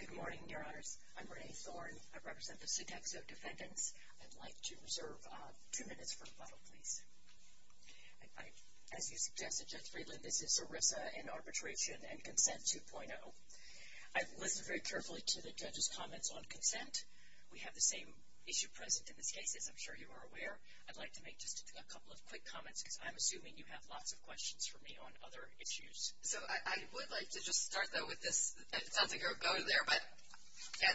Good morning, Your Honors. I'm Renee Thorne. I represent the Sodexo defendants. I'd like to reserve two minutes for rebuttal, please. As you suggested, Judge Friedland, this is ERISA in Arbitration and Consent 2.0. I've listened very carefully to the judge's comments on consent. We have the same issue present in this case, as I'm sure you are aware. I'd like to make just a couple of quick comments, because I'm assuming you have lots of questions for me on other issues. So I would like to just start, though, with this. It sounds like it would go there, but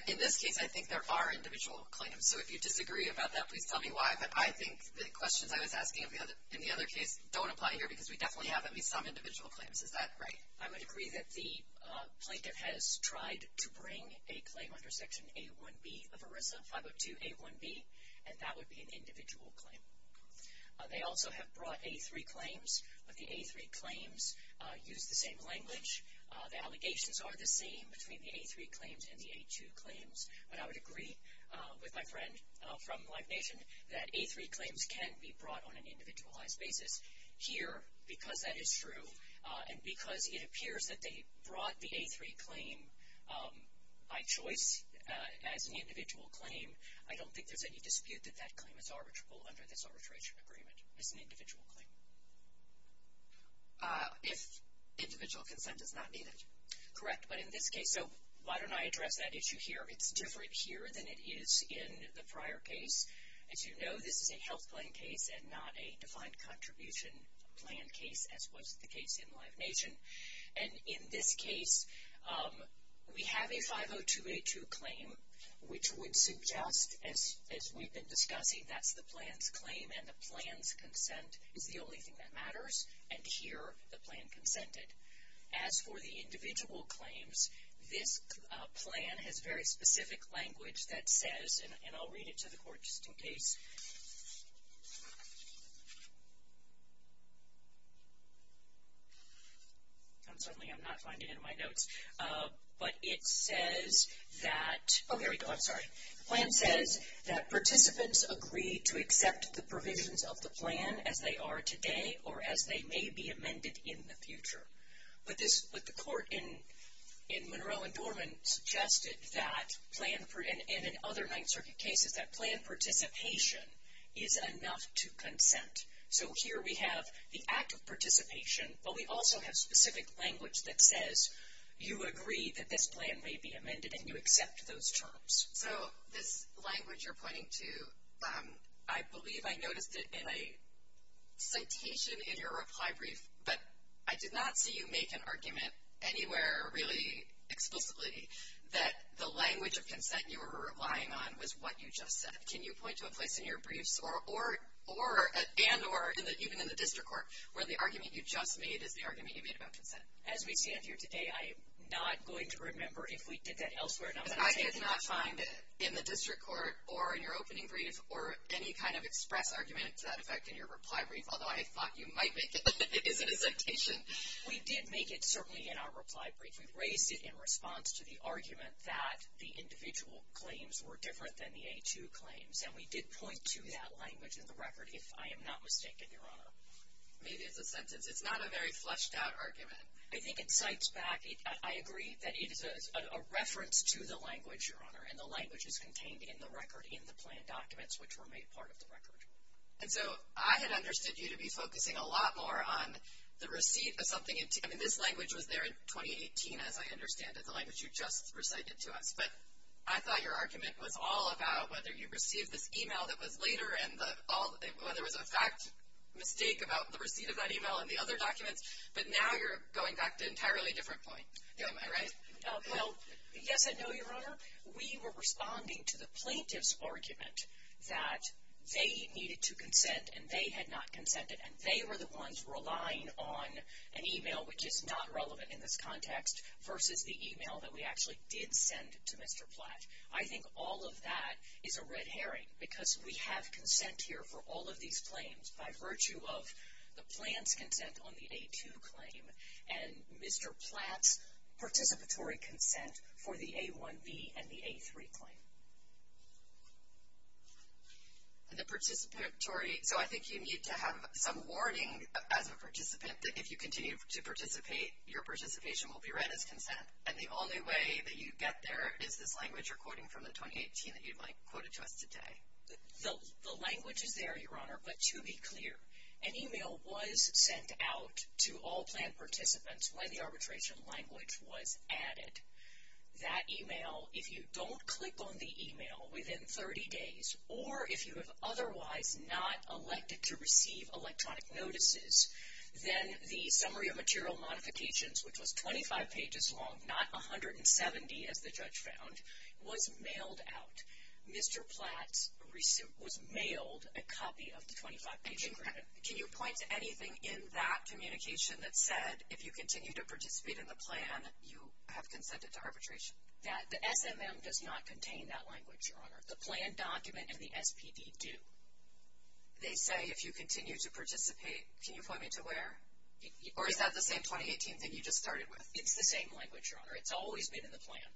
in this case, I think there are individual claims. So if you disagree about that, please tell me why. But I think the questions I was asking in the other case don't apply here, because we definitely have at least some individual claims. Is that right? I would agree that the plaintiff has tried to bring a claim under Section A1B of ERISA, 502A1B, and that would be an individual claim. They also have brought A3 claims, but the A3 claims use the same language. The allegations are the same between the A3 claims and the A2 claims. But I would agree with my friend from Life Nation that A3 claims can be brought on an individualized basis. Here, because that is true, and because it appears that they brought the A3 claim by choice as an individual claim, I don't think there's any dispute that that claim is arbitrable under this arbitration agreement. It's an individual claim. If individual consent is not needed. Correct, but in this case, so why don't I address that issue here? It's different here than it is in the prior case. As you know, this is a health plan case and not a defined contribution plan case, as was the case in Life Nation. And in this case, we have a 502A2 claim, which would suggest, as we've been discussing, that's the plan's claim, and the plan's consent is the only thing that matters. And here, the plan consented. As for the individual claims, this plan has very specific language that says, and I'll read it to the court just in case. And certainly I'm not finding it in my notes. But it says that, oh, here we go, I'm sorry. The plan says that participants agree to accept the provisions of the plan as they are today or as they may be amended in the future. But the court in Monroe and Dorman suggested that, and in other Ninth Circuit cases, that plan participation is enough to consent. So here we have the act of participation, but we also have specific language that says you agree that this plan may be amended and you accept those terms. So this language you're pointing to, I believe I noticed it in a citation in your reply brief, but I did not see you make an argument anywhere really explicitly that the language of consent you were relying on was what you just said. Can you point to a place in your briefs, and or even in the district court, where the argument you just made is the argument you made about consent? As we stand here today, I am not going to remember if we did that elsewhere. But I did not find it in the district court or in your opening brief or any kind of express argument to that effect in your reply brief, although I thought you might make it as a citation. We did make it certainly in our reply brief. We raised it in response to the argument that the individual claims were different than the A2 claims, and we did point to that language in the record, if I am not mistaken, Your Honor. Maybe it's a sentence. It's not a very fleshed-out argument. I think it cites back. I agree that it is a reference to the language, Your Honor, and the language is contained in the record in the plan documents, which were made part of the record. And so I had understood you to be focusing a lot more on the receipt of something. I mean, this language was there in 2018, as I understand it, the language you just recited to us. But I thought your argument was all about whether you received this e-mail that was later and whether it was a fact mistake about the receipt of that e-mail and the other documents. But now you're going back to an entirely different point. Am I right? Well, yes and no, Your Honor. We were responding to the plaintiff's argument that they needed to consent and they had not consented and they were the ones relying on an e-mail which is not relevant in this context versus the e-mail that we actually did send to Mr. Platt. I think all of that is a red herring because we have consent here for all of these claims by virtue of the plan's consent on the A2 claim and Mr. Platt's participatory consent for the A1B and the A3 claim. And the participatory, so I think you need to have some warning as a participant that if you continue to participate, your participation will be read as consent. And the only way that you get there is this language you're quoting from the 2018 that you quoted to us today. The language is there, Your Honor, but to be clear, an e-mail was sent out to all plan participants when the arbitration language was added. That e-mail, if you don't click on the e-mail within 30 days or if you have otherwise not elected to receive electronic notices, then the summary of material modifications, which was 25 pages long, not 170 as the judge found, was mailed out. Mr. Platt was mailed a copy of the 25-page agreement. Can you point to anything in that communication that said, if you continue to participate in the plan, you have consented to arbitration? The SMM does not contain that language, Your Honor. The plan document and the SPD do. They say, if you continue to participate, can you point me to where? Or is that the same 2018 thing you just started with? It's the same language, Your Honor. It's always been in the plan.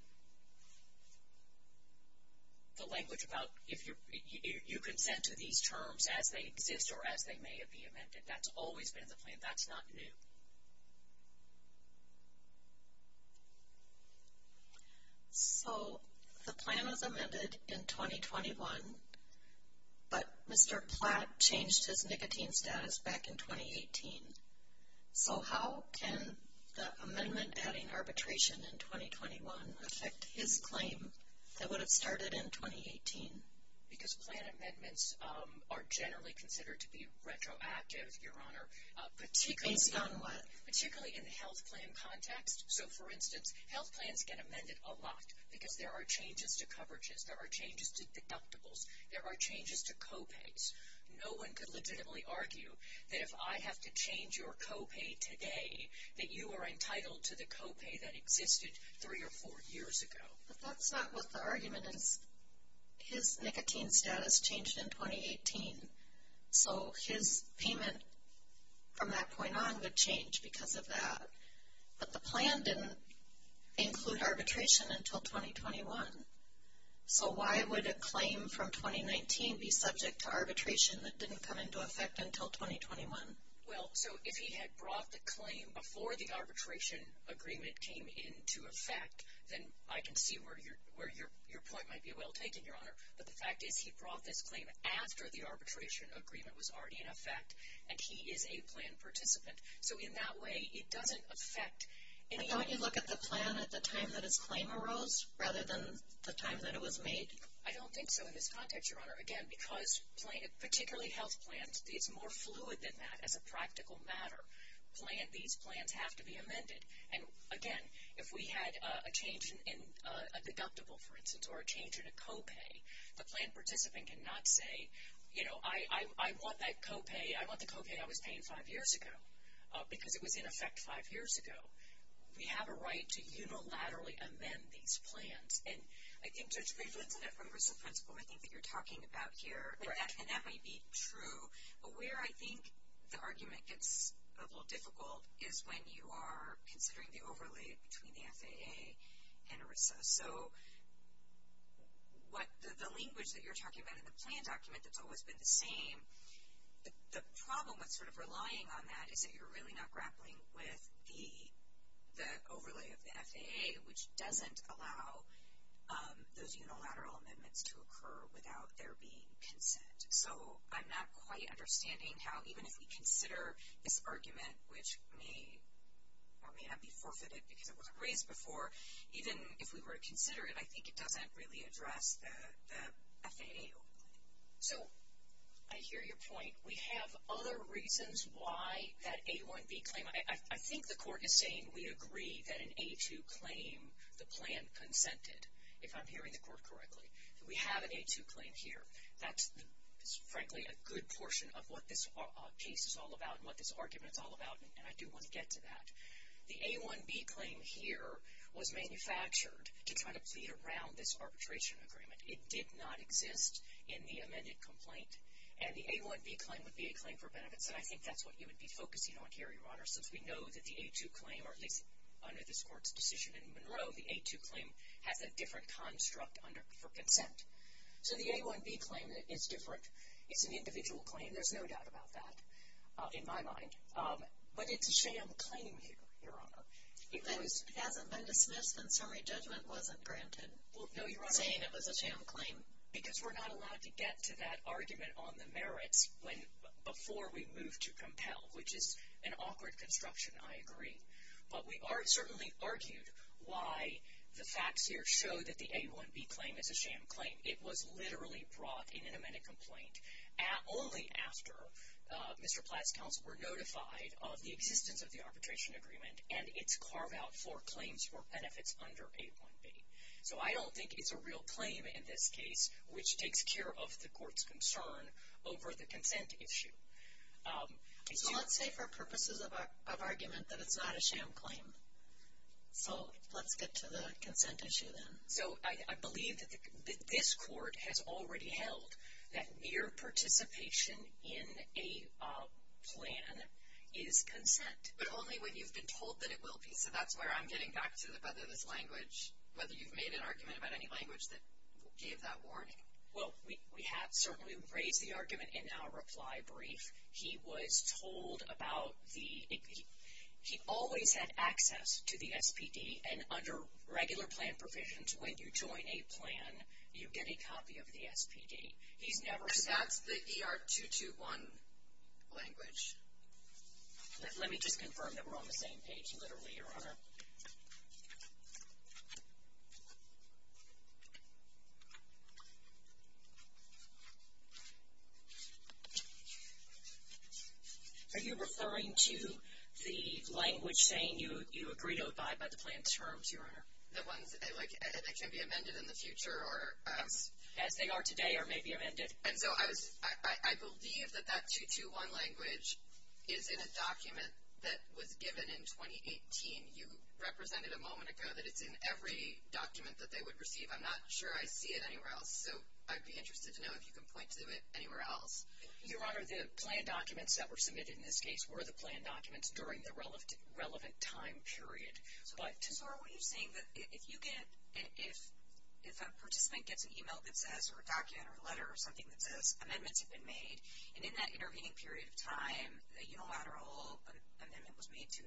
The language about if you consent to these terms as they exist or as they may be amended, that's always been in the plan. That's not new. So the plan was amended in 2021, but Mr. Platt changed his nicotine status back in 2018. So how can the amendment adding arbitration in 2021 affect his claim that would have started in 2018? Because plan amendments are generally considered to be retroactive, Your Honor. Based on what? Particularly in the health plan context. So, for instance, health plans get amended a lot because there are changes to coverages, there are changes to deductibles, there are changes to copays. No one could legitimately argue that if I have to change your copay today, that you are entitled to the copay that existed three or four years ago. But that's not what the argument is. His nicotine status changed in 2018. So his payment from that point on would change because of that. But the plan didn't include arbitration until 2021. So why would a claim from 2019 be subject to arbitration that didn't come into effect until 2021? Well, so if he had brought the claim before the arbitration agreement came into effect, then I can see where your point might be well taken, Your Honor. But the fact is, he brought this claim after the arbitration agreement was already in effect, and he is a plan participant. So in that way, it doesn't affect any of the other plans. Was it done at the time that his claim arose rather than the time that it was made? I don't think so in this context, Your Honor. Again, because particularly health plans, it's more fluid than that as a practical matter. These plans have to be amended. And, again, if we had a change in a deductible, for instance, or a change in a copay, the plan participant cannot say, you know, I want that copay, I want the copay I was paying five years ago because it was in effect five years ago. We have a right to unilaterally amend these plans. And I think Judge Griffin said that from RISA principle, I think, that you're talking about here. And that might be true. But where I think the argument gets a little difficult is when you are considering the overlay between the FAA and RISA. So the language that you're talking about in the plan document that's always been the same, the problem with sort of relying on that is that you're really not grappling with the overlay of the FAA, which doesn't allow those unilateral amendments to occur without there being consent. So I'm not quite understanding how even if we consider this argument, which may or may not be forfeited because it wasn't raised before, even if we were to consider it, I think it doesn't really address the FAA overlay. So I hear your point. We have other reasons why that A1B claim, I think the court is saying we agree that an A2 claim, the plan consented, if I'm hearing the court correctly. We have an A2 claim here. That's, frankly, a good portion of what this case is all about and what this argument is all about, and I do want to get to that. The A1B claim here was manufactured to try to plead around this arbitration agreement. It did not exist in the amended complaint, and the A1B claim would be a claim for benefits, and I think that's what you would be focusing on here, Your Honor, since we know that the A2 claim, or at least under this court's decision in Monroe, the A2 claim has a different construct for consent. So the A1B claim is different. It's an individual claim. There's no doubt about that in my mind. But it's a sham claim here, Your Honor. It hasn't been dismissed, and summary judgment wasn't granted. Well, no, Your Honor, saying it was a sham claim, because we're not allowed to get to that argument on the merits before we move to compel, which is an awkward construction, I agree. But we are certainly argued why the facts here show that the A1B claim is a sham claim. It was literally brought in an amended complaint only after Mr. Platt's counsel were notified of the existence of the arbitration agreement and its carve-out for claims for benefits under A1B. So I don't think it's a real claim in this case, which takes care of the court's concern over the consent issue. So let's say for purposes of argument that it's not a sham claim. So let's get to the consent issue then. So I believe that this court has already held that mere participation in a plan is consent. But only when you've been told that it will be. So that's where I'm getting back to whether this language, whether you've made an argument about any language that gave that warning. Well, we have certainly raised the argument in our reply brief. He was told about the — he always had access to the SPD, and under regular plan provisions when you join a plan, you get a copy of the SPD. He's never said — But that's the ER-221 language. Let me just confirm that we're on the same page literally, Your Honor. Are you referring to the language saying you agree to abide by the plan terms, Your Honor? The ones that can be amended in the future or as — As they are today or may be amended. And so I believe that that 221 language is in a document that was given in 2018. You represented a moment ago that it's in every document that they would receive. I'm not sure I see it anywhere else. So I'd be interested to know if you can point to it anywhere else. Your Honor, the plan documents that were submitted in this case were the plan documents during the relevant time period. So what you're saying that if you get — if a participant gets an email that says, or a document or a letter or something that says amendments have been made, and in that intervening period of time, a unilateral amendment was made to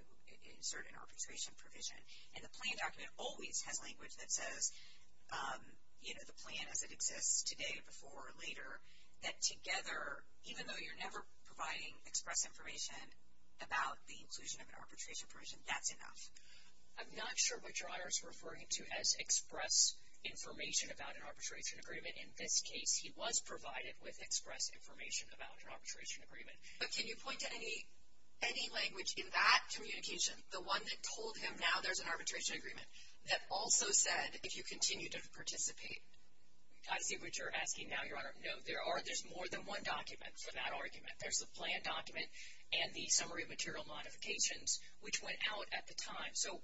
insert an arbitration provision, and the plan document always has language that says, you know, the plan as it exists today, before, or later, that together, even though you're never providing express information about the inclusion of an arbitration provision, that's enough? I'm not sure what Your Honor is referring to as express information about an arbitration agreement. In this case, he was provided with express information about an arbitration agreement. But can you point to any language in that communication, the one that told him now there's an arbitration agreement, that also said if you continue to participate? I see what you're asking now, Your Honor. No, there's more than one document for that argument. There's the plan document and the summary of material modifications, which went out at the time. So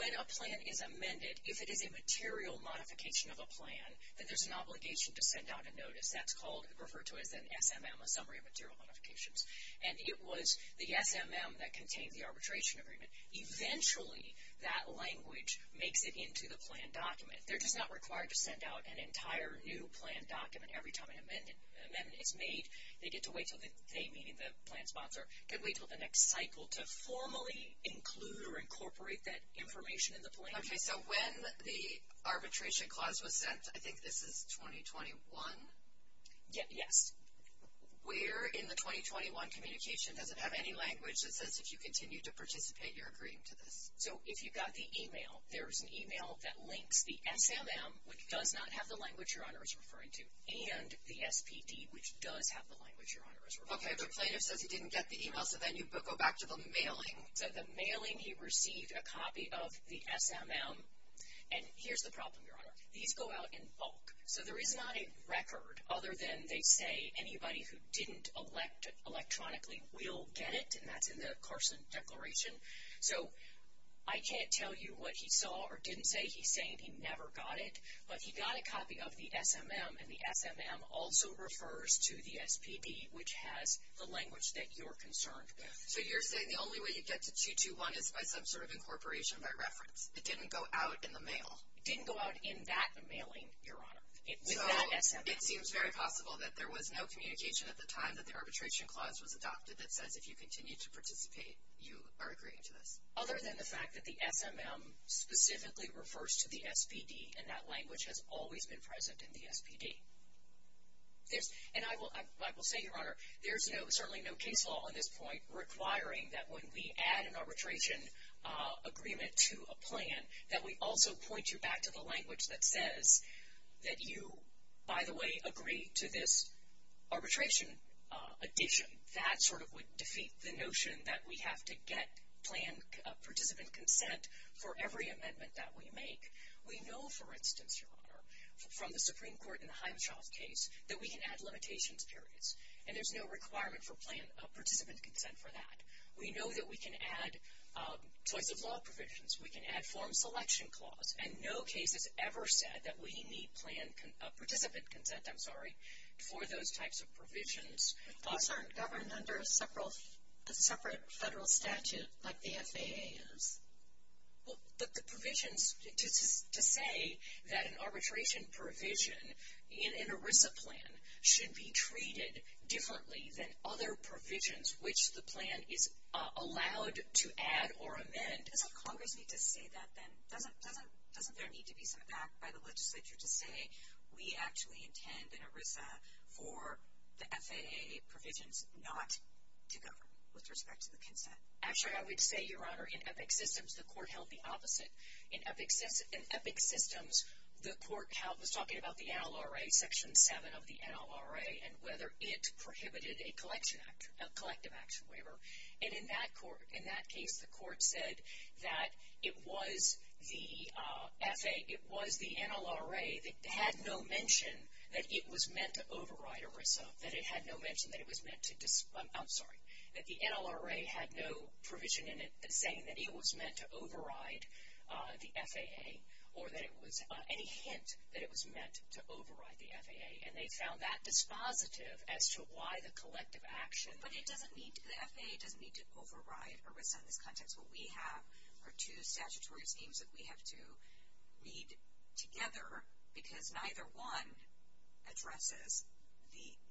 when a plan is amended, if it is a material modification of a plan, then there's an obligation to send out a notice. That's called — referred to as an SMM, a summary of material modifications. And it was the SMM that contained the arbitration agreement. Eventually, that language makes it into the plan document. They're just not required to send out an entire new plan document every time an amendment is made. They get to wait until the day meeting the plan sponsor can wait until the next cycle to formally include or incorporate that information in the plan document. Okay, so when the arbitration clause was sent, I think this is 2021? Yes. Where in the 2021 communication does it have any language that says if you continue to participate, you're agreeing to this? So if you got the email, there's an email that links the SMM, which does not have the language Your Honor is referring to, and the SPD, which does have the language Your Honor is referring to. Okay, but plaintiff says he didn't get the email, so then you go back to the mailing. So the mailing, he received a copy of the SMM. And here's the problem, Your Honor. These go out in bulk. So there is not a record other than they say anybody who didn't elect electronically will get it, and that's in the Carson Declaration. So I can't tell you what he saw or didn't say. He's saying he never got it. But he got a copy of the SMM, and the SMM also refers to the SPD, which has the language that you're concerned with. So you're saying the only way you get to 221 is by some sort of incorporation by reference. It didn't go out in the mail. It didn't go out in that mailing, Your Honor, with that SMM. So it seems very possible that there was no communication at the time that the arbitration clause was adopted that says if you continue to participate, you are agreeing to this. Other than the fact that the SMM specifically refers to the SPD, and that language has always been present in the SPD. And I will say, Your Honor, there's certainly no case law on this point requiring that when we add an arbitration agreement to a plan, that we also point you back to the language that says that you, by the way, agree to this arbitration addition. That sort of would defeat the notion that we have to get plan participant consent for every amendment that we make. We know, for instance, Your Honor, from the Supreme Court in the Himeshoff case, that we can add limitations periods. And there's no requirement for plan participant consent for that. We know that we can add choice of law provisions. We can add form selection clause. And no case has ever said that we need plan participant consent, I'm sorry, for those types of provisions. Those aren't governed under a separate federal statute like the FAA is. But the provisions to say that an arbitration provision in an ERISA plan should be treated differently than other provisions which the plan is allowed to add or amend. Doesn't Congress need to say that then? Doesn't there need to be some act by the legislature to say, we actually intend in ERISA for the FAA provisions not to govern with respect to the consent? Actually, I would say, Your Honor, in EPIC systems the court held the opposite. In EPIC systems the court was talking about the NLRA, Section 7 of the NLRA, and whether it prohibited a collective action waiver. And in that case the court said that it was the NLRA that had no mention that it was meant to override ERISA, that it had no mention that it was meant to, I'm sorry, that the NLRA had no provision in it saying that it was meant to override the FAA or that it was, any hint that it was meant to override the FAA. And they found that dispositive as to why the collective action. But it doesn't need, the FAA doesn't need to override ERISA in this context. What we have are two statutory schemes that we have to read together because neither one addresses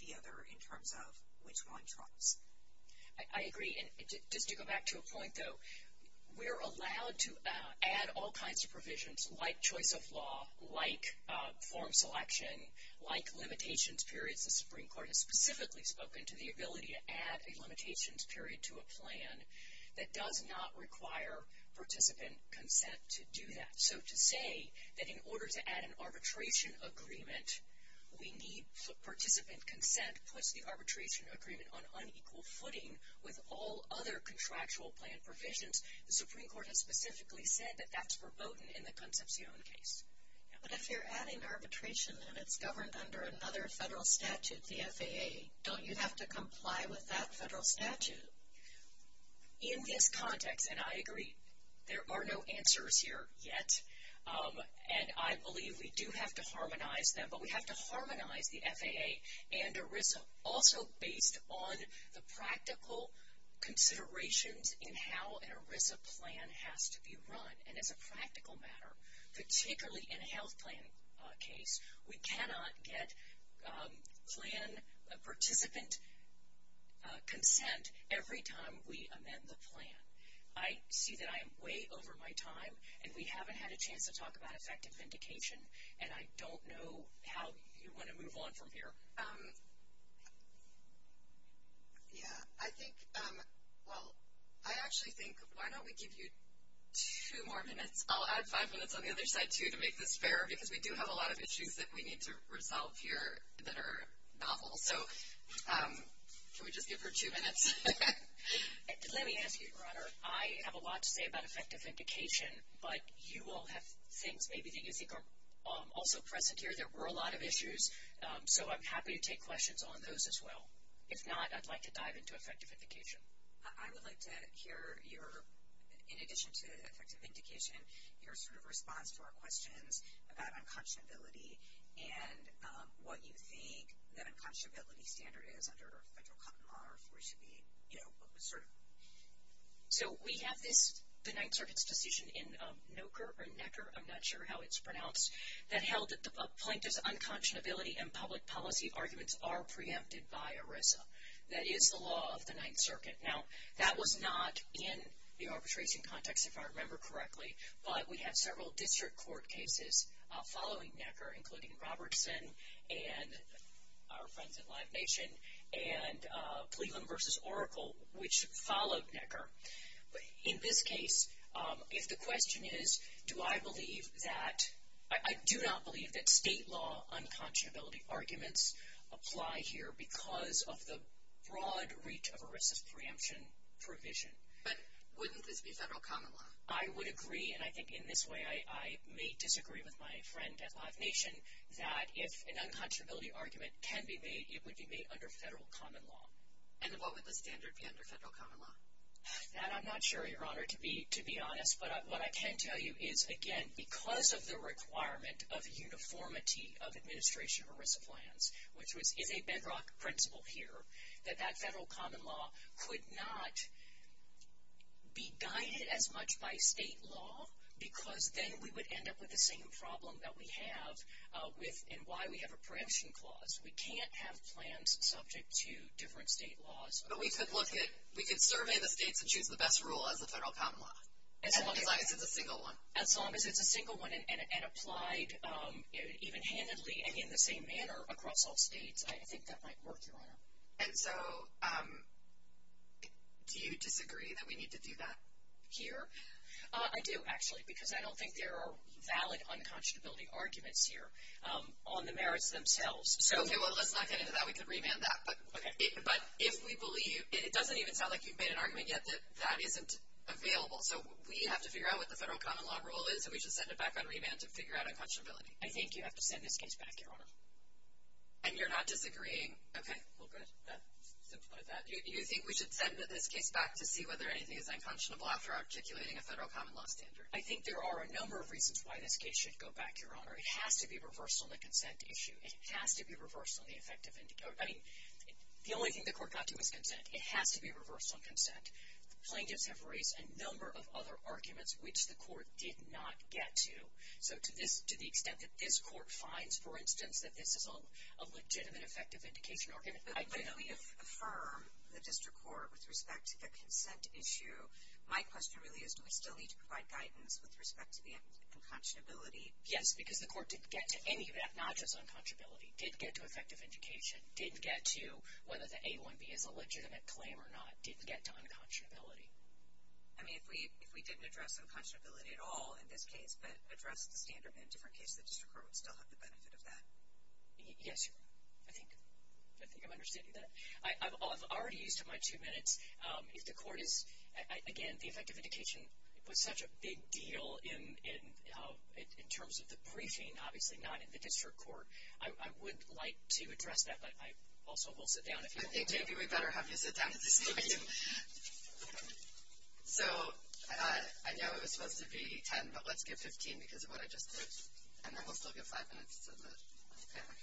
the other in terms of which one trumps. I agree. And just to go back to a point, though, we're allowed to add all kinds of provisions like choice of law, like form selection, like limitations periods. The Supreme Court has specifically spoken to the ability to add a limitations period to a plan that does not require participant consent to do that. So to say that in order to add an arbitration agreement we need participant consent puts the arbitration agreement on unequal footing with all other contractual plan provisions. The Supreme Court has specifically said that that's verboten in the Concepcion case. But if you're adding arbitration and it's governed under another federal statute, the FAA, don't you have to comply with that federal statute? In this context, and I agree, there are no answers here yet, and I believe we do have to harmonize them. But we have to harmonize the FAA and ERISA also based on the practical considerations in how an ERISA plan has to be run. And as a practical matter, particularly in a health plan case, we cannot get plan participant consent every time we amend the plan. I see that I am way over my time, and we haven't had a chance to talk about effective vindication, and I don't know how you want to move on from here. Yeah, I think, well, I actually think why don't we give you two more minutes. I'll add five minutes on the other side, too, to make this fairer, because we do have a lot of issues that we need to resolve here that are novel. So can we just give her two minutes? Let me ask you, Your Honor, I have a lot to say about effective vindication, but you all have things maybe that you think are also present here. There were a lot of issues, so I'm happy to take questions on those as well. If not, I'd like to dive into effective vindication. I would like to hear your, in addition to effective vindication, your sort of response to our questions about unconscionability and what you think that unconscionability standard is under federal common law, or if we should be, you know, sort of. So we have this, the Ninth Circuit's decision in Noecker or Necker, I'm not sure how it's pronounced, that held that the plaintiff's unconscionability and public policy arguments are preempted by ERISA. That is the law of the Ninth Circuit. Now, that was not in the arbitration context, if I remember correctly, but we have several district court cases following Necker, including Robertson and our friends at Live Nation, and Cleveland v. Oracle, which followed Necker. In this case, if the question is, do I believe that, I do not believe that state law unconscionability arguments apply here because of the broad reach of ERISA's preemption provision. But wouldn't this be federal common law? I would agree, and I think in this way I may disagree with my friend at Live Nation, that if an unconscionability argument can be made, it would be made under federal common law. And what would the standard be under federal common law? That I'm not sure, Your Honor, to be honest. But what I can tell you is, again, because of the requirement of uniformity of administration of ERISA plans, which is a bedrock principle here, that that federal common law could not be guided as much by state law because then we would end up with the same problem that we have and why we have a preemption clause. We can't have plans subject to different state laws. But we could survey the states and choose the best rule as the federal common law, as long as it's a single one. As long as it's a single one and applied even-handedly and in the same manner across all states, I think that might work, Your Honor. And so do you disagree that we need to do that here? I do, actually, because I don't think there are valid unconscionability arguments here on the merits themselves. Okay, well, let's not get into that. We could remand that. But if we believe, it doesn't even sound like you've made an argument yet that that isn't available. So we have to figure out what the federal common law rule is, and we should send it back on remand to figure out unconscionability. I think you have to send this case back, Your Honor. And you're not disagreeing? Okay. Well, good. You think we should send this case back to see whether anything is unconscionable after articulating a federal common law standard? I think there are a number of reasons why this case should go back, Your Honor. It has to be reversed on the consent issue. It has to be reversed on the effective indication. I mean, the only thing the court got to was consent. It has to be reversed on consent. The plaintiffs have raised a number of other arguments, which the court did not get to. So to the extent that this court finds, for instance, that this is a legitimate effective indication argument. But when we affirm the district court with respect to the consent issue, my question really is do we still need to provide guidance with respect to the unconscionability? Yes, because the court didn't get to any of that, not just unconscionability. It did get to effective indication. It didn't get to whether the A1B is a legitimate claim or not. It didn't get to unconscionability. I mean, if we didn't address unconscionability at all in this case but addressed the standard in different cases, the district court would still have the benefit of that. Yes, Your Honor. I think I'm understanding that. I've already used up my two minutes. Again, the effective indication was such a big deal in terms of the briefing, obviously not in the district court. I would like to address that, but I also will sit down if you want me to. I think maybe we better have you sit down at this point. So I know it was supposed to be 10, but let's give 15 because of what I just did. And then we'll still give five minutes to the panel.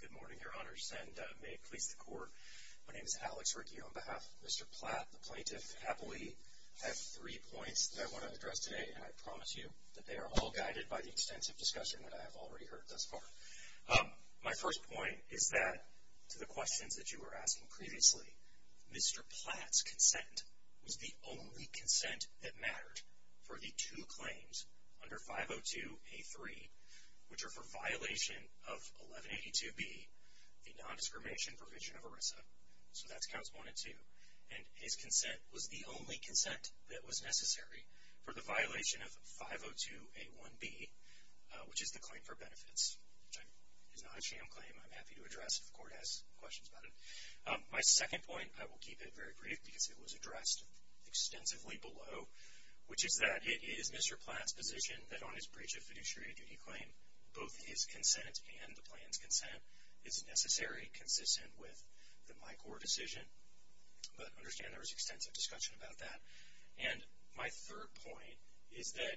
Good morning, Your Honors, and may it please the Court. My name is Alex Rickey on behalf of Mr. Platt. The plaintiff happily has three points that I want to address today, and I promise you that they are all guided by the extensive discussion that I have already heard thus far. My first point is that, to the questions that you were asking previously, Mr. Platt's consent was the only consent that mattered for the two claims under 502A3, which are for violation of 1182B, the nondiscrimination provision of ERISA. So that's Counts 1 and 2. And his consent was the only consent that was necessary for the violation of 502A1B, which is the claim for benefits, which is not a sham claim. I'm happy to address it if the Court has questions about it. My second point, I will keep it very brief because it was addressed extensively below, which is that it is Mr. Platt's position that on his breach of fiduciary duty claim, both his consent and the plaintiff's consent is necessary, consistent with the MICOR decision. But understand there was extensive discussion about that. And my third point is that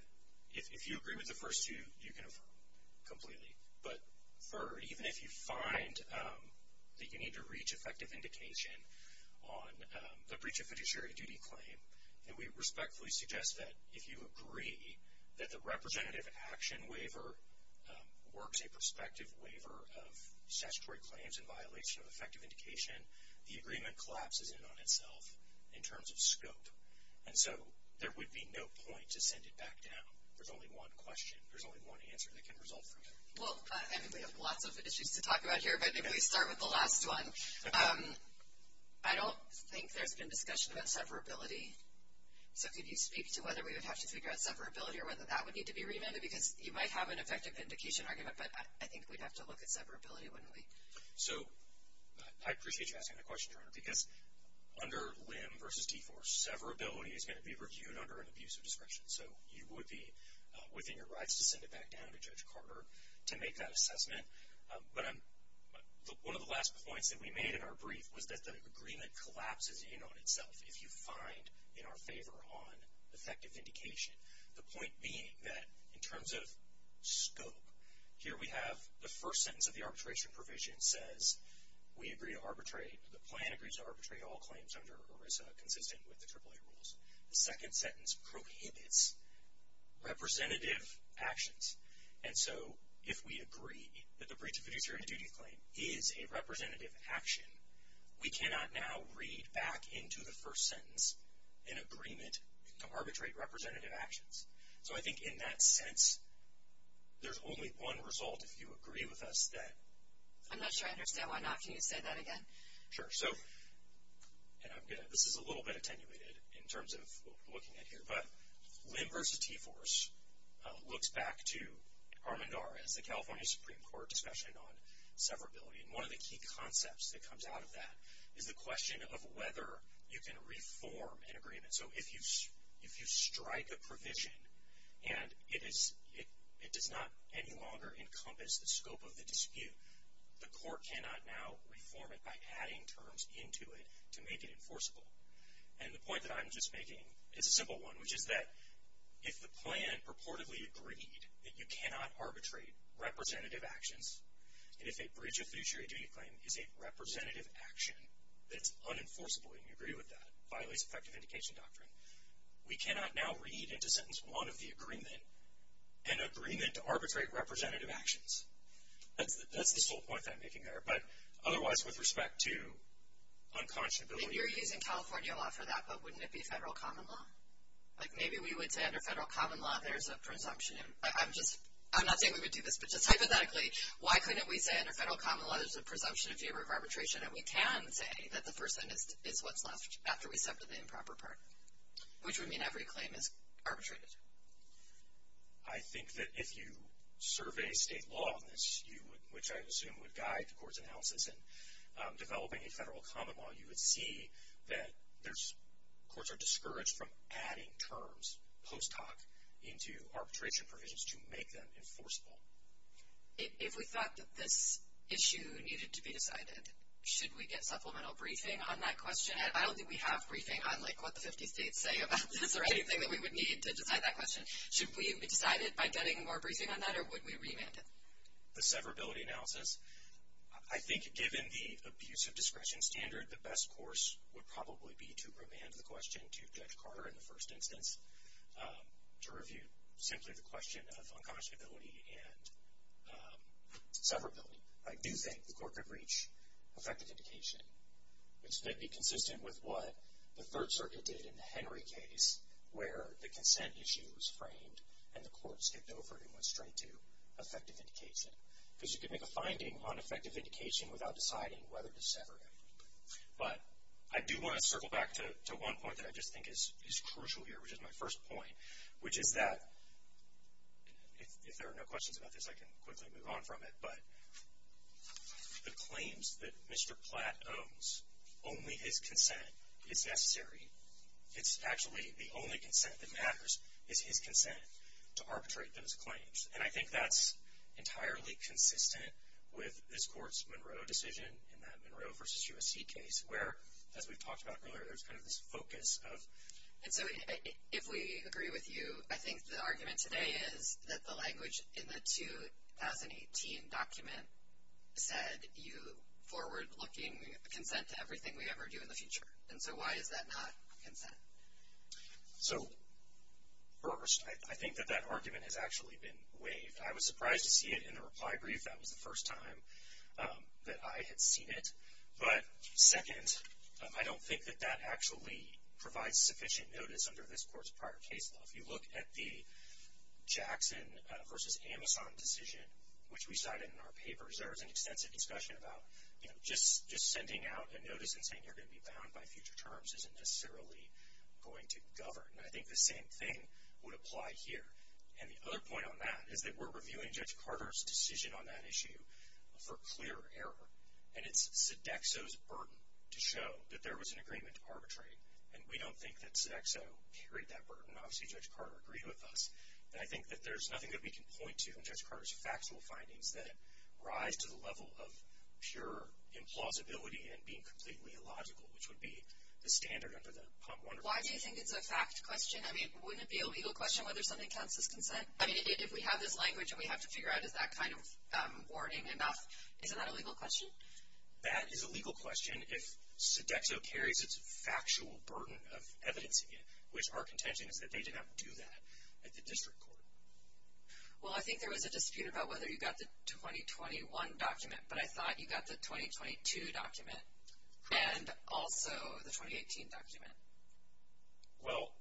if you agree with the first two, you can affirm completely. But third, even if you find that you need to reach effective indication on the breach of fiduciary duty claim, then we respectfully suggest that if you agree that the representative action waiver works a prospective waiver of statutory claims in violation of effective indication, the agreement collapses in on itself in terms of scope. And so there would be no point to send it back down. There's only one question. There's only one answer that can result from it. Well, I think we have lots of issues to talk about here, but maybe we start with the last one. I don't think there's been discussion about severability. So could you speak to whether we would have to figure out severability or whether that would need to be remanded? Because you might have an effective indication argument, but I think we'd have to look at severability, wouldn't we? So I appreciate you asking that question, Your Honor, because under LIM v. Deforce, severability is going to be reviewed under an abusive discretion. So you would be within your rights to send it back down to Judge Carter to make that assessment. But one of the last points that we made in our brief was that the agreement collapses in on itself if you find in our favor on effective indication, the point being that in terms of scope, here we have the first sentence of the arbitration provision says we agree to arbitrate. The plan agrees to arbitrate all claims under ERISA consistent with the AAA rules. The second sentence prohibits representative actions. And so if we agree that the breach of fiduciary duty claim is a representative action, we cannot now read back into the first sentence an agreement to arbitrate representative actions. So I think in that sense, there's only one result if you agree with us. I'm not sure I understand. Why not? Can you say that again? Sure. So this is a little bit attenuated in terms of what we're looking at here. But LIM v. Deforce looks back to Armendar as the California Supreme Court discussion on severability. And one of the key concepts that comes out of that is the question of whether you can reform an agreement. So if you strike a provision and it does not any longer encompass the scope of the dispute, the court cannot now reform it by adding terms into it to make it enforceable. And the point that I'm just making is a simple one, which is that if the plan purportedly agreed that you cannot arbitrate representative actions, and if a breach of fiduciary duty claim is a representative action that's unenforceable and you agree with that, violates effective indication doctrine, we cannot now read into sentence one of the agreement an agreement to arbitrate representative actions. That's the sole point that I'm making there. But otherwise, with respect to unconscionability. You're using California law for that, but wouldn't it be federal common law? Like maybe we would say under federal common law there's a presumption. I'm not saying we would do this, but just hypothetically, why couldn't we say under federal common law there's a presumption in favor of arbitration and we can say that the first sentence is what's left after we separate the improper part, which would mean every claim is arbitrated. I think that if you survey state law on this, which I assume would guide the court's analysis in developing a federal common law, you would see that courts are discouraged from adding terms post hoc into arbitration provisions to make them enforceable. If we thought that this issue needed to be decided, should we get supplemental briefing on that question? I don't think we have briefing on what the 50 states say about this or anything that we would need to decide that question. Should we decide it by getting more briefing on that or would we remand it? The severability analysis? I think given the abuse of discretion standard, the best course would probably be to remand the question to Judge Carter in the first instance to review simply the question of unconscionability and severability. I do think the court could reach effective indication, which may be consistent with what the Third Circuit did in the Henry case where the consent issue was framed and the court skipped over it and went straight to effective indication. Because you could make a finding on effective indication without deciding whether to sever it. But I do want to circle back to one point that I just think is crucial here, which is my first point, which is that, if there are no questions about this, I can quickly move on from it, but the claims that Mr. Platt owns, only his consent is necessary. It's actually the only consent that matters is his consent to arbitrate those claims. And I think that's entirely consistent with this court's Monroe decision in that Monroe v. USC case where, as we've talked about earlier, there's kind of this focus of. And so if we agree with you, I think the argument today is that the language in the 2018 document said, you forward-looking consent to everything we ever do in the future. And so why is that not consent? So, first, I think that that argument has actually been waived. I was surprised to see it in the reply brief. That was the first time that I had seen it. But, second, I don't think that that actually provides sufficient notice under this court's prior case law. If you look at the Jackson v. Amazon decision, which we cited in our papers, there is an extensive discussion about just sending out a notice and saying you're going to be bound by future terms isn't necessarily going to govern. And I think the same thing would apply here. And the other point on that is that we're reviewing Judge Carter's decision on that issue for clear error. And it's Sodexo's burden to show that there was an agreement to arbitrate. And we don't think that Sodexo carried that burden. Obviously, Judge Carter agreed with us. And I think that there's nothing that we can point to in Judge Carter's factual findings that rise to the level of pure implausibility and being completely illogical, which would be the standard under the POM 1. Why do you think it's a fact question? I mean, wouldn't it be a legal question whether something counts as consent? I mean, if we have this language and we have to figure out, is that kind of warning enough? Isn't that a legal question? That is a legal question if Sodexo carries its factual burden of evidencing it, which our contention is that they did not do that at the district court. Well, I think there was a dispute about whether you got the 2021 document, but I thought you got the 2022 document and also the 2018 document. Well,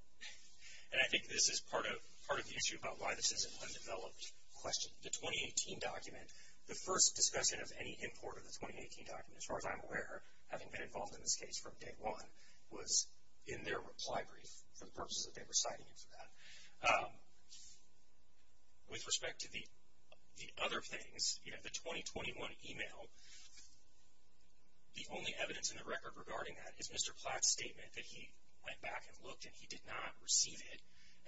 and I think this is part of the issue about why this is an undeveloped question. The 2018 document, the first discussion of any import of the 2018 document, as far as I'm aware, having been involved in this case from day one, was in their reply brief for the purposes that they were signing it for that. With respect to the other things, you know, the 2021 email, the only evidence in the record regarding that is Mr. Platt's statement that he went back and looked and he did not receive it.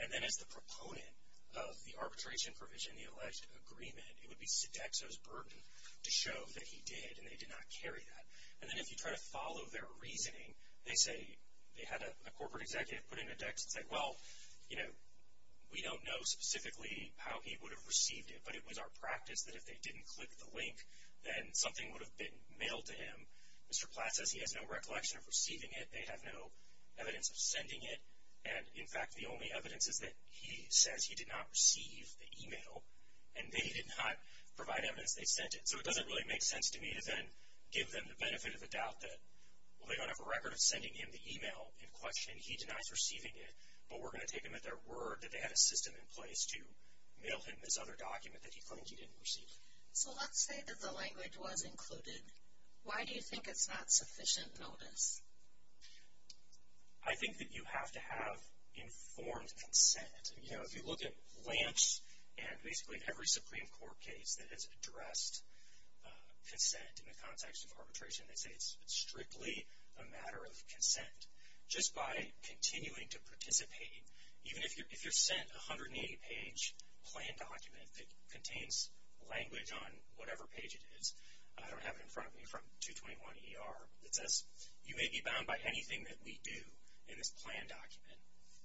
And then as the proponent of the arbitration provision, the alleged agreement, it would be Sodexo's burden to show that he did and they did not carry that. And then if you try to follow their reasoning, they say they had a corporate executive put into Dex and said, well, you know, we don't know specifically how he would have received it, but it was our practice that if they didn't click the link, then something would have been mailed to him. Mr. Platt says he has no recollection of receiving it. They have no evidence of sending it. And, in fact, the only evidence is that he says he did not receive the email and they did not provide evidence they sent it. So it doesn't really make sense to me to then give them the benefit of the doubt that, well, they don't have a record of sending him the email in question and he denies receiving it, but we're going to take them at their word that they had a system in place to mail him this other document that he claims he didn't receive it. So let's say that the language was included. Why do you think it's not sufficient notice? I think that you have to have informed consent. You know, if you look at Lance and basically every Supreme Court case that has addressed consent in the context of arbitration, they say it's strictly a matter of consent. Just by continuing to participate, even if you're sent a 180-page plan document that contains language on whatever page it is. I don't have it in front of me from 221ER. It says you may be bound by anything that we do in this plan document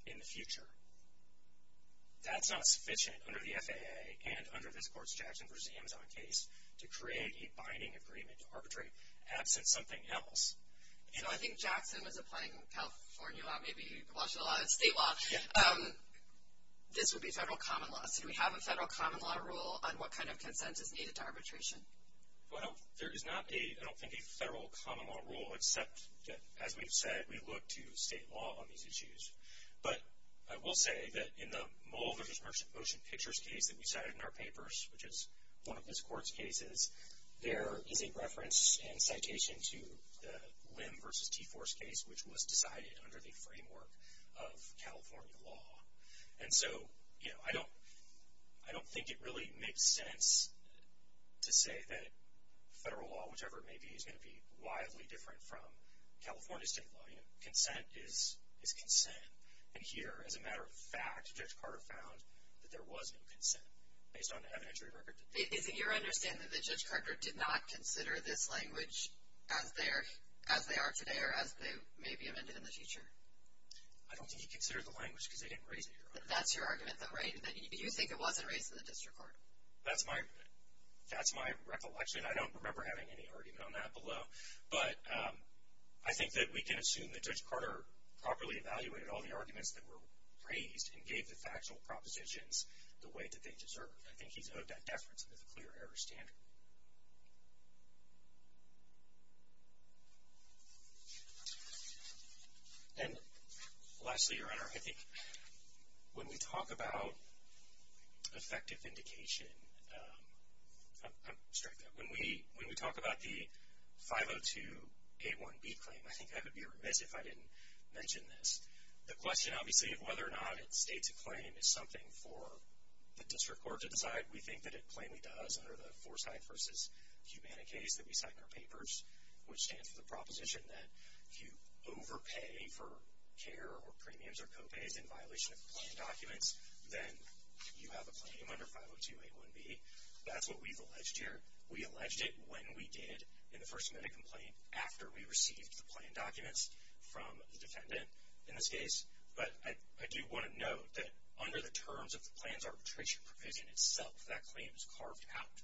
in the future. That's not sufficient under the FAA and under this Court's Jackson v. Amazon case to create a binding agreement to arbitrate absent something else. You know, I think Jackson was applying California law, maybe Washington law, state law. This would be federal common law. So do we have a federal common law rule on what kind of consent is needed to arbitration? Well, there is not a, I don't think, a federal common law rule, except that, as we've said, we look to state law on these issues. But I will say that in the Mull v. Merchant Ocean Pictures case that we cited in our papers, which is one of this Court's cases, there is a reference and citation to the Lim v. Teiforce case, which was decided under the framework of California law. And so, you know, I don't think it really makes sense to say that federal law, whichever it may be, is going to be wildly different from California state law. You know, consent is consent. And here, as a matter of fact, Judge Carter found that there was no consent based on evidentiary record. Is it your understanding that Judge Carter did not consider this language as they are today or as they may be amended in the future? I don't think he considered the language because they didn't raise it here. That's your argument, though, right, that you think it wasn't raised in the district court? That's my recollection. I don't remember having any argument on that below. But I think that we can assume that Judge Carter properly evaluated all the arguments that were raised and gave the factual propositions the weight that they deserved. I think he's owed that deference under the clear error standard. And lastly, Your Honor, I think when we talk about effective vindication, I'm going to strike that. When we talk about the 502A1B claim, I think I would be remiss if I didn't mention this. The question, obviously, of whether or not it states a claim is something for the district court to decide. We think that it plainly does under the Forsyth v. Cubana case that we cite in our papers, which stands for the proposition that if you overpay for care or premiums or co-pays in violation of the plan documents, then you have a claim under 502A1B. That's what we've alleged here. We alleged it when we did, in the first minute complaint, after we received the plan documents from the defendant in this case. But I do want to note that under the terms of the plan's arbitration provision itself, that claim is carved out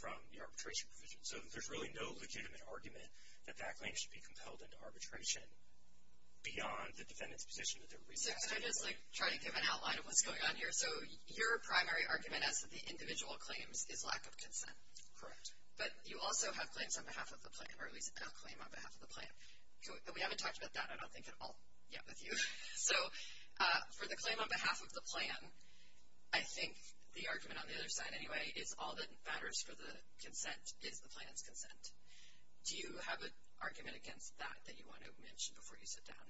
from the arbitration provision. So there's really no legitimate argument that that claim should be compelled into arbitration beyond the defendant's position that they're raising. So could I just try to give an outline of what's going on here? So your primary argument is that the individual claims is lack of consent. Correct. But you also have claims on behalf of the plan, or at least a claim on behalf of the plan. And we haven't talked about that, I don't think, at all yet with you. So for the claim on behalf of the plan, I think the argument on the other side anyway is all that matters for the consent is the plan's consent. Do you have an argument against that that you want to mention before you sit down?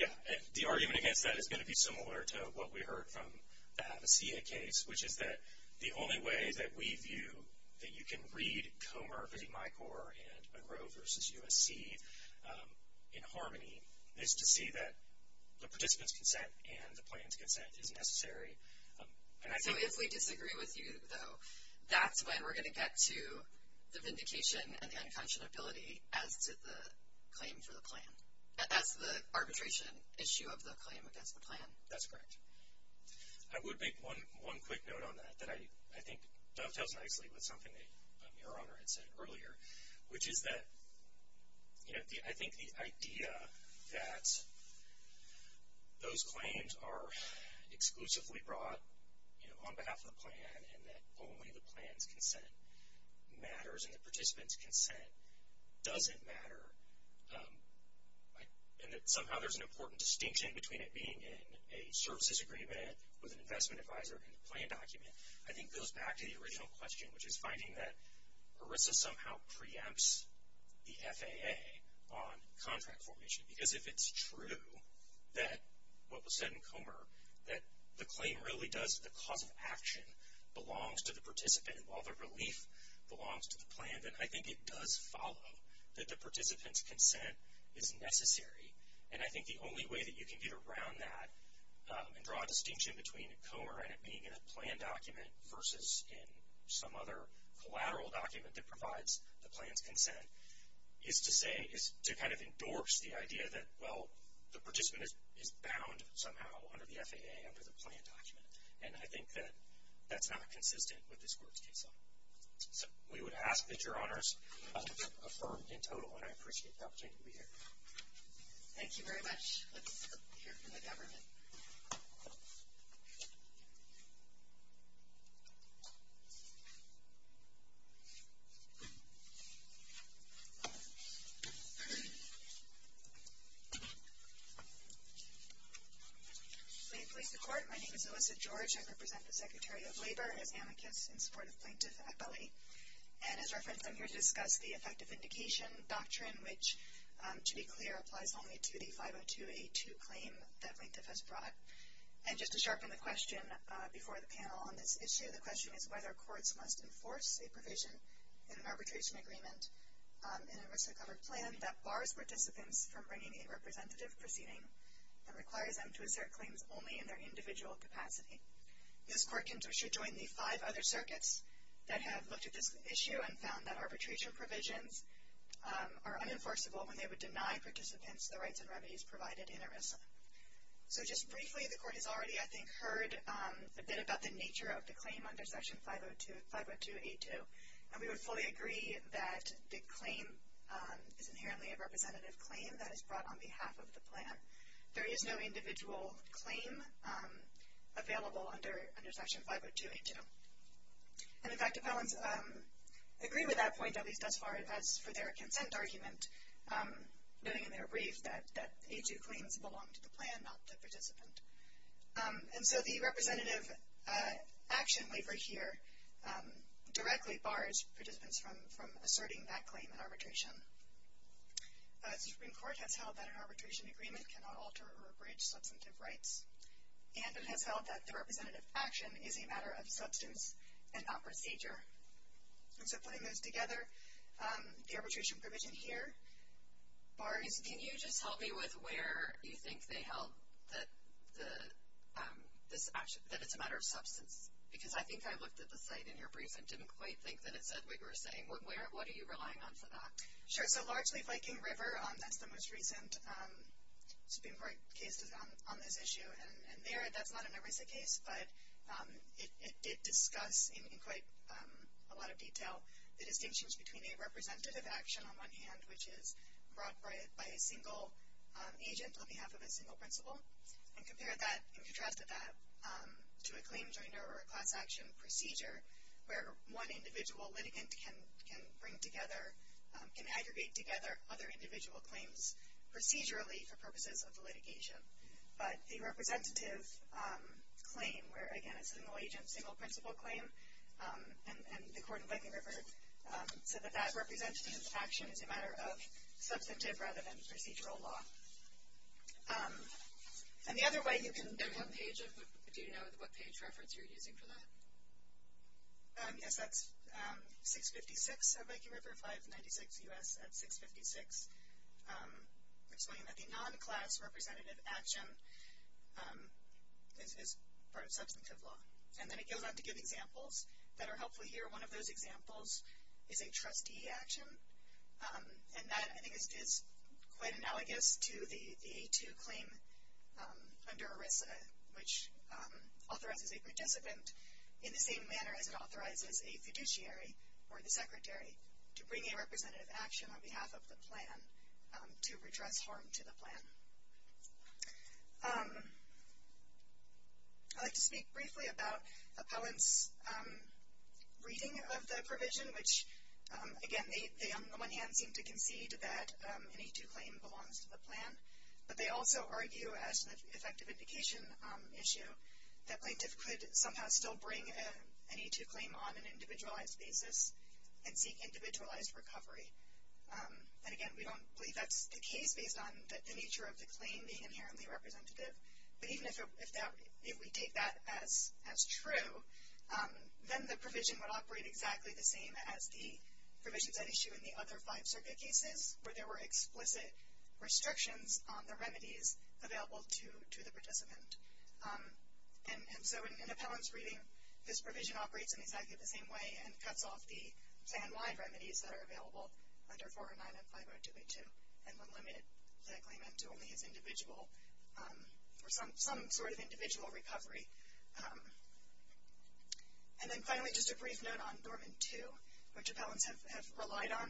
Yeah. The argument against that is going to be similar to what we heard from the Havasia case, which is that the only way that we view that you can read Comer v. Mycor and Agro versus USC in harmony is to see that the participant's consent and the plan's consent is necessary. So if we disagree with you, though, that's when we're going to get to the vindication and the unconscionability as to the claim for the plan, as to the arbitration issue of the claim against the plan. That's correct. I would make one quick note on that that I think dovetails nicely with something that Your Honor had said earlier, which is that I think the idea that those claims are exclusively brought on behalf of the plan and that only the plan's consent matters and the participant's consent doesn't matter, and that somehow there's an important distinction between it being in a services agreement with an investment advisor and the plan document, I think goes back to the original question, which is finding that ERISA somehow preempts the FAA on contract formation. Because if it's true that what was said in Comer, that the claim really does, the cause of action belongs to the participant while the relief belongs to the plan, then I think it does follow that the participant's consent is necessary. And I think the only way that you can get around that and draw a distinction between Comer and it being in a plan document versus in some other collateral document that provides the plan's consent is to say, is to kind of endorse the idea that, well, the participant is bound somehow under the FAA, under the plan document. And I think that that's not consistent with this court's case law. We would ask that Your Honors affirm in total, and I appreciate the opportunity to be here. Thank you very much. Let's hear from the government. Please place the court. My name is Alyssa George. I represent the Secretary of Labor as amicus in support of Plaintiff Appellee. And as reference, I'm here to discuss the effective indication doctrine, which, to be clear, applies only to the 502A2 claim that Plaintiff has brought. And just to sharpen the question before the panel on this issue, the question is whether courts must enforce a provision in an arbitration agreement in a RISA-covered plan that bars participants from bringing a representative proceeding that requires them to assert claims only in their individual capacity. This court should join the five other circuits that have looked at this issue and found that arbitration provisions are unenforceable when they would deny participants the rights and remedies provided in a RISA. So just briefly, the court has already, I think, heard a bit about the nature of the claim under Section 502A2. And we would fully agree that the claim is inherently a representative claim that is brought on behalf of the plan. There is no individual claim available under Section 502A2. And, in fact, appellants agree with that point, at least thus far, as for their consent argument, noting in their brief that A2 claims belong to the plan, not the participant. And so the representative action waiver here directly bars participants from asserting that claim in arbitration. The Supreme Court has held that an arbitration agreement cannot alter or abridge substantive rights. And it has held that the representative action is a matter of substance and not procedure. And so putting those together, the arbitration provision here bars... Can you just help me with where you think they held that it's a matter of substance? Because I think I looked at the site in your brief and didn't quite think that it said what you were saying. What are you relying on for that? Sure. So largely Viking River, that's the most recent Supreme Court case on this issue. And there, that's not a RISA case. But it discusses in quite a lot of detail the distinctions between a representative action, on one hand, which is brought by a single agent on behalf of a single principal, and compare that and contrast that to a claim joiner or a class action procedure where one individual litigant can bring together, can aggregate together other individual claims procedurally for purposes of litigation. But a representative claim where, again, it's a single agent, single principal claim, and the Court of Viking River said that that representative action is a matter of substantive rather than procedural law. And the other way you can... Do you know what page reference you're using for that? Yes, that's 656 of Viking River, 596 U.S. at 656, explaining that the non-class representative action is part of substantive law. And then it goes on to give examples that are helpful here. One of those examples is a trustee action. And that, I think, is quite analogous to the A2 claim under RISA, which authorizes a participant in the same manner as it authorizes a fiduciary or the secretary to bring a representative action on behalf of the plan to redress harm to the plan. I'd like to speak briefly about appellants' reading of the provision, which, again, they on the one hand seem to concede that an A2 claim belongs to the plan, but they also argue as an effective indication issue that plaintiff could somehow still bring an A2 claim on an individualized basis and seek individualized recovery. And, again, we don't believe that's the case based on the nature of the claim being inherently representative. But even if we take that as true, then the provision would operate exactly the same as the provisions at issue in the other five circuit cases where there were explicit restrictions on the remedies available to the participant. And so in an appellant's reading, this provision operates in exactly the same way and cuts off the plan-wide remedies that are available under 409 and 502A2, and would limit that claim into only its individual or some sort of individual recovery. And then finally, just a brief note on Dormant 2, which appellants have relied on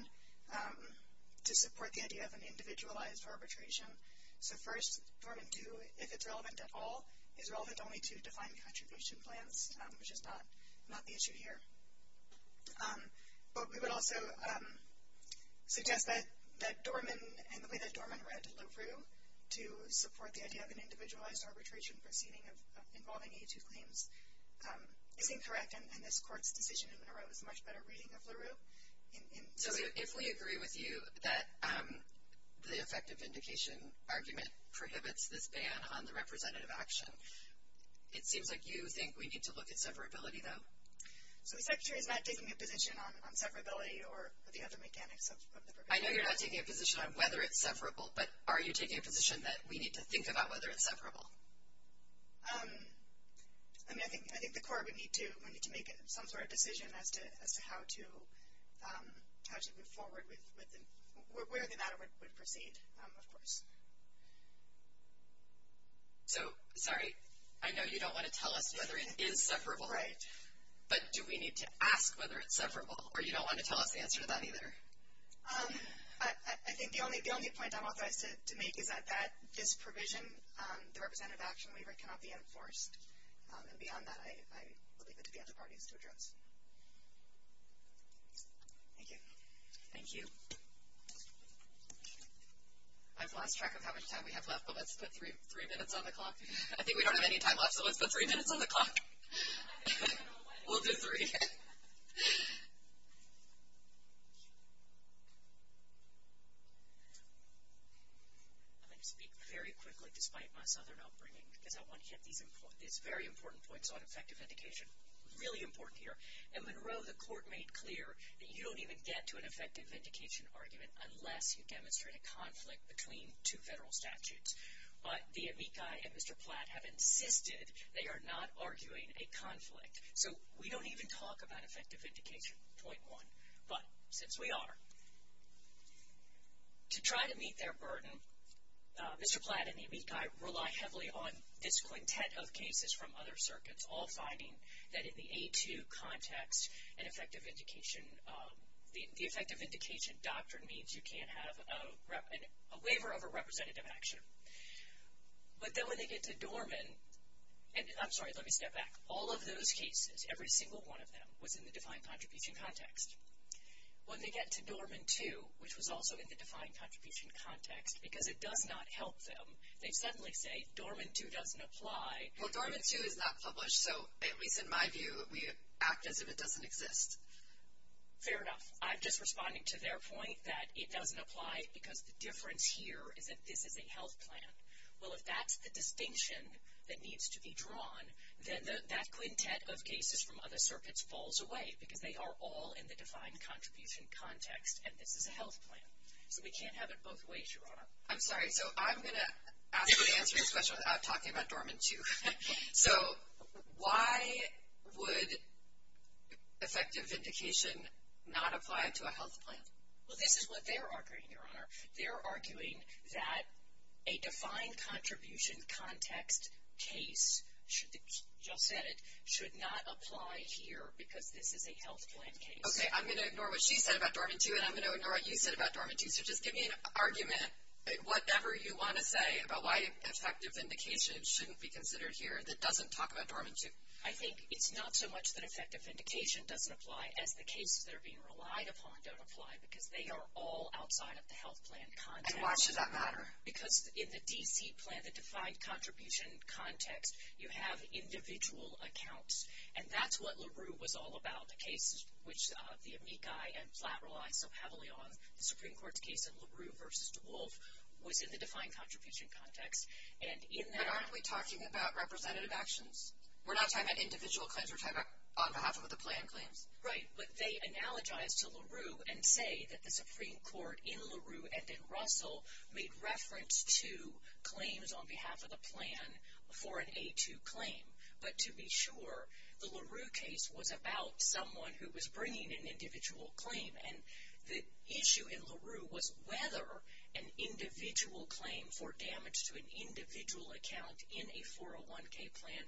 to support the idea of an individualized arbitration. So first, Dormant 2, if it's relevant at all, is relevant only to defined contribution plans, which is not the issue here. But we would also suggest that Dormant and the way that Dormant read LaRue to support the idea of an individualized arbitration proceeding involving A2 claims is incorrect, and this Court's decision in Monroe is a much better reading of LaRue. So if we agree with you that the effective vindication argument prohibits this ban on the representative action, it seems like you think we need to look at severability, though. So the Secretary's not taking a position on severability or the other mechanics of the provision. I know you're not taking a position on whether it's severable, but are you taking a position that we need to think about whether it's severable? I mean, I think the Court would need to make some sort of decision as to how to move forward with where the matter would proceed, of course. So, sorry, I know you don't want to tell us whether it is severable. Right. But do we need to ask whether it's severable, or you don't want to tell us the answer to that either? I think the only point I'm authorized to make is that this provision, the representative action waiver, cannot be enforced. And beyond that, I will leave it to the other parties to address. Thank you. Thank you. I've lost track of how much time we have left, but let's put three minutes on the clock. I think we don't have any time left, so let's put three minutes on the clock. We'll do three. I'm going to speak very quickly, despite my Southern upbringing, because I want to hit these very important points on effective vindication. Really important here. In Monroe, the court made clear that you don't even get to an effective vindication argument unless you demonstrate a conflict between two federal statutes. But the amici and Mr. Platt have insisted they are not arguing a conflict. So we don't even talk about effective vindication, point one, but since we are. To try to meet their burden, Mr. Platt and the amici rely heavily on this quintet of cases from other circuits, all finding that in the A2 context, an effective vindication, the effective vindication doctrine means you can't have a waiver of a representative action. But then when they get to Dorman, and I'm sorry, let me step back. All of those cases, every single one of them, was in the defined contribution context. When they get to Dorman 2, which was also in the defined contribution context, because it does not help them, they suddenly say Dorman 2 doesn't apply. Well, Dorman 2 is not published, so at least in my view, we act as if it doesn't exist. Fair enough. I'm just responding to their point that it doesn't apply because the difference here is that this is a health plan. Well, if that's the distinction that needs to be drawn, then that quintet of cases from other circuits falls away because they are all in the defined contribution context, and this is a health plan. So we can't have it both ways, Your Honor. I'm sorry. So I'm going to ask you to answer this question without talking about Dorman 2. So why would effective vindication not apply to a health plan? Well, this is what they're arguing, Your Honor. They're arguing that a defined contribution context case should not apply here because this is a health plan case. Okay, I'm going to ignore what she said about Dorman 2, and I'm going to ignore what you said about Dorman 2. So just give me an argument, whatever you want to say, about why effective vindication shouldn't be considered here that doesn't talk about Dorman 2. I think it's not so much that effective vindication doesn't apply as the cases that are being relied upon don't apply because they are all outside of the health plan context. And why should that matter? Because in the D.C. plan, the defined contribution context, you have individual accounts, and that's what LaRue was all about. The case which the amici and Flatt relied so heavily on, the Supreme Court's case in LaRue v. DeWolf, was in the defined contribution context. But aren't we talking about representative actions? We're not talking about individual claims. We're talking about on behalf of the plan claims. Right, but they analogize to LaRue and say that the Supreme Court in LaRue and in Russell made reference to claims on behalf of the plan for an A2 claim. But to be sure, the LaRue case was about someone who was bringing an individual claim. And the issue in LaRue was whether an individual claim for damage to an individual account in a 401k plan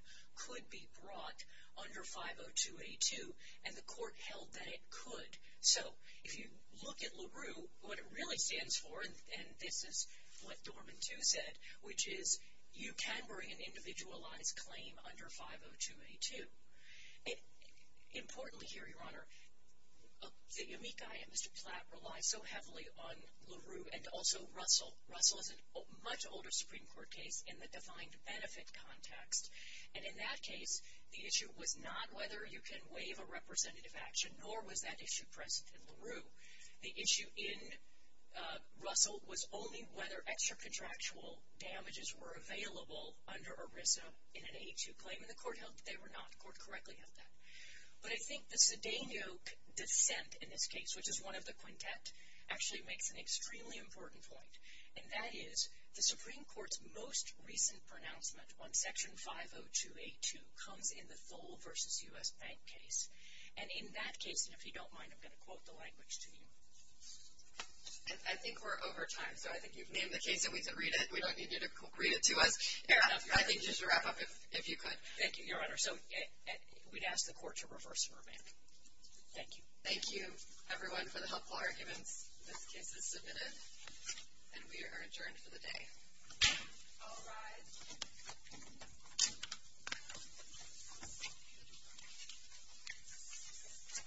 could be brought under 502A2. And the court held that it could. So if you look at LaRue, what it really stands for, and this is what Dorman 2 said, which is you can bring an individualized claim under 502A2. Importantly here, Your Honor, the amici and Mr. Flatt relied so heavily on LaRue and also Russell. Russell is a much older Supreme Court case in the defined benefit context. And in that case, the issue was not whether you can waive a representative action, nor was that issue present in LaRue. The issue in Russell was only whether extracontractual damages were available under ERISA in an A2 claim. And the court held that they were not. The court correctly held that. But I think the Sidaniuk dissent in this case, which is one of the quintet, actually makes an extremely important point. And that is the Supreme Court's most recent pronouncement on Section 502A2 comes in the Thole v. U.S. Bank case. And in that case, and if you don't mind, I'm going to quote the language to you. I think we're over time, so I think you've named the case and we can read it. We don't need you to read it to us. I think you should wrap up if you could. Thank you, Your Honor. So we'd ask the court to reverse and revamp. Thank you. Thank you, everyone, for the helpful arguments. This case is submitted, and we are adjourned for the day. All rise. Thank you.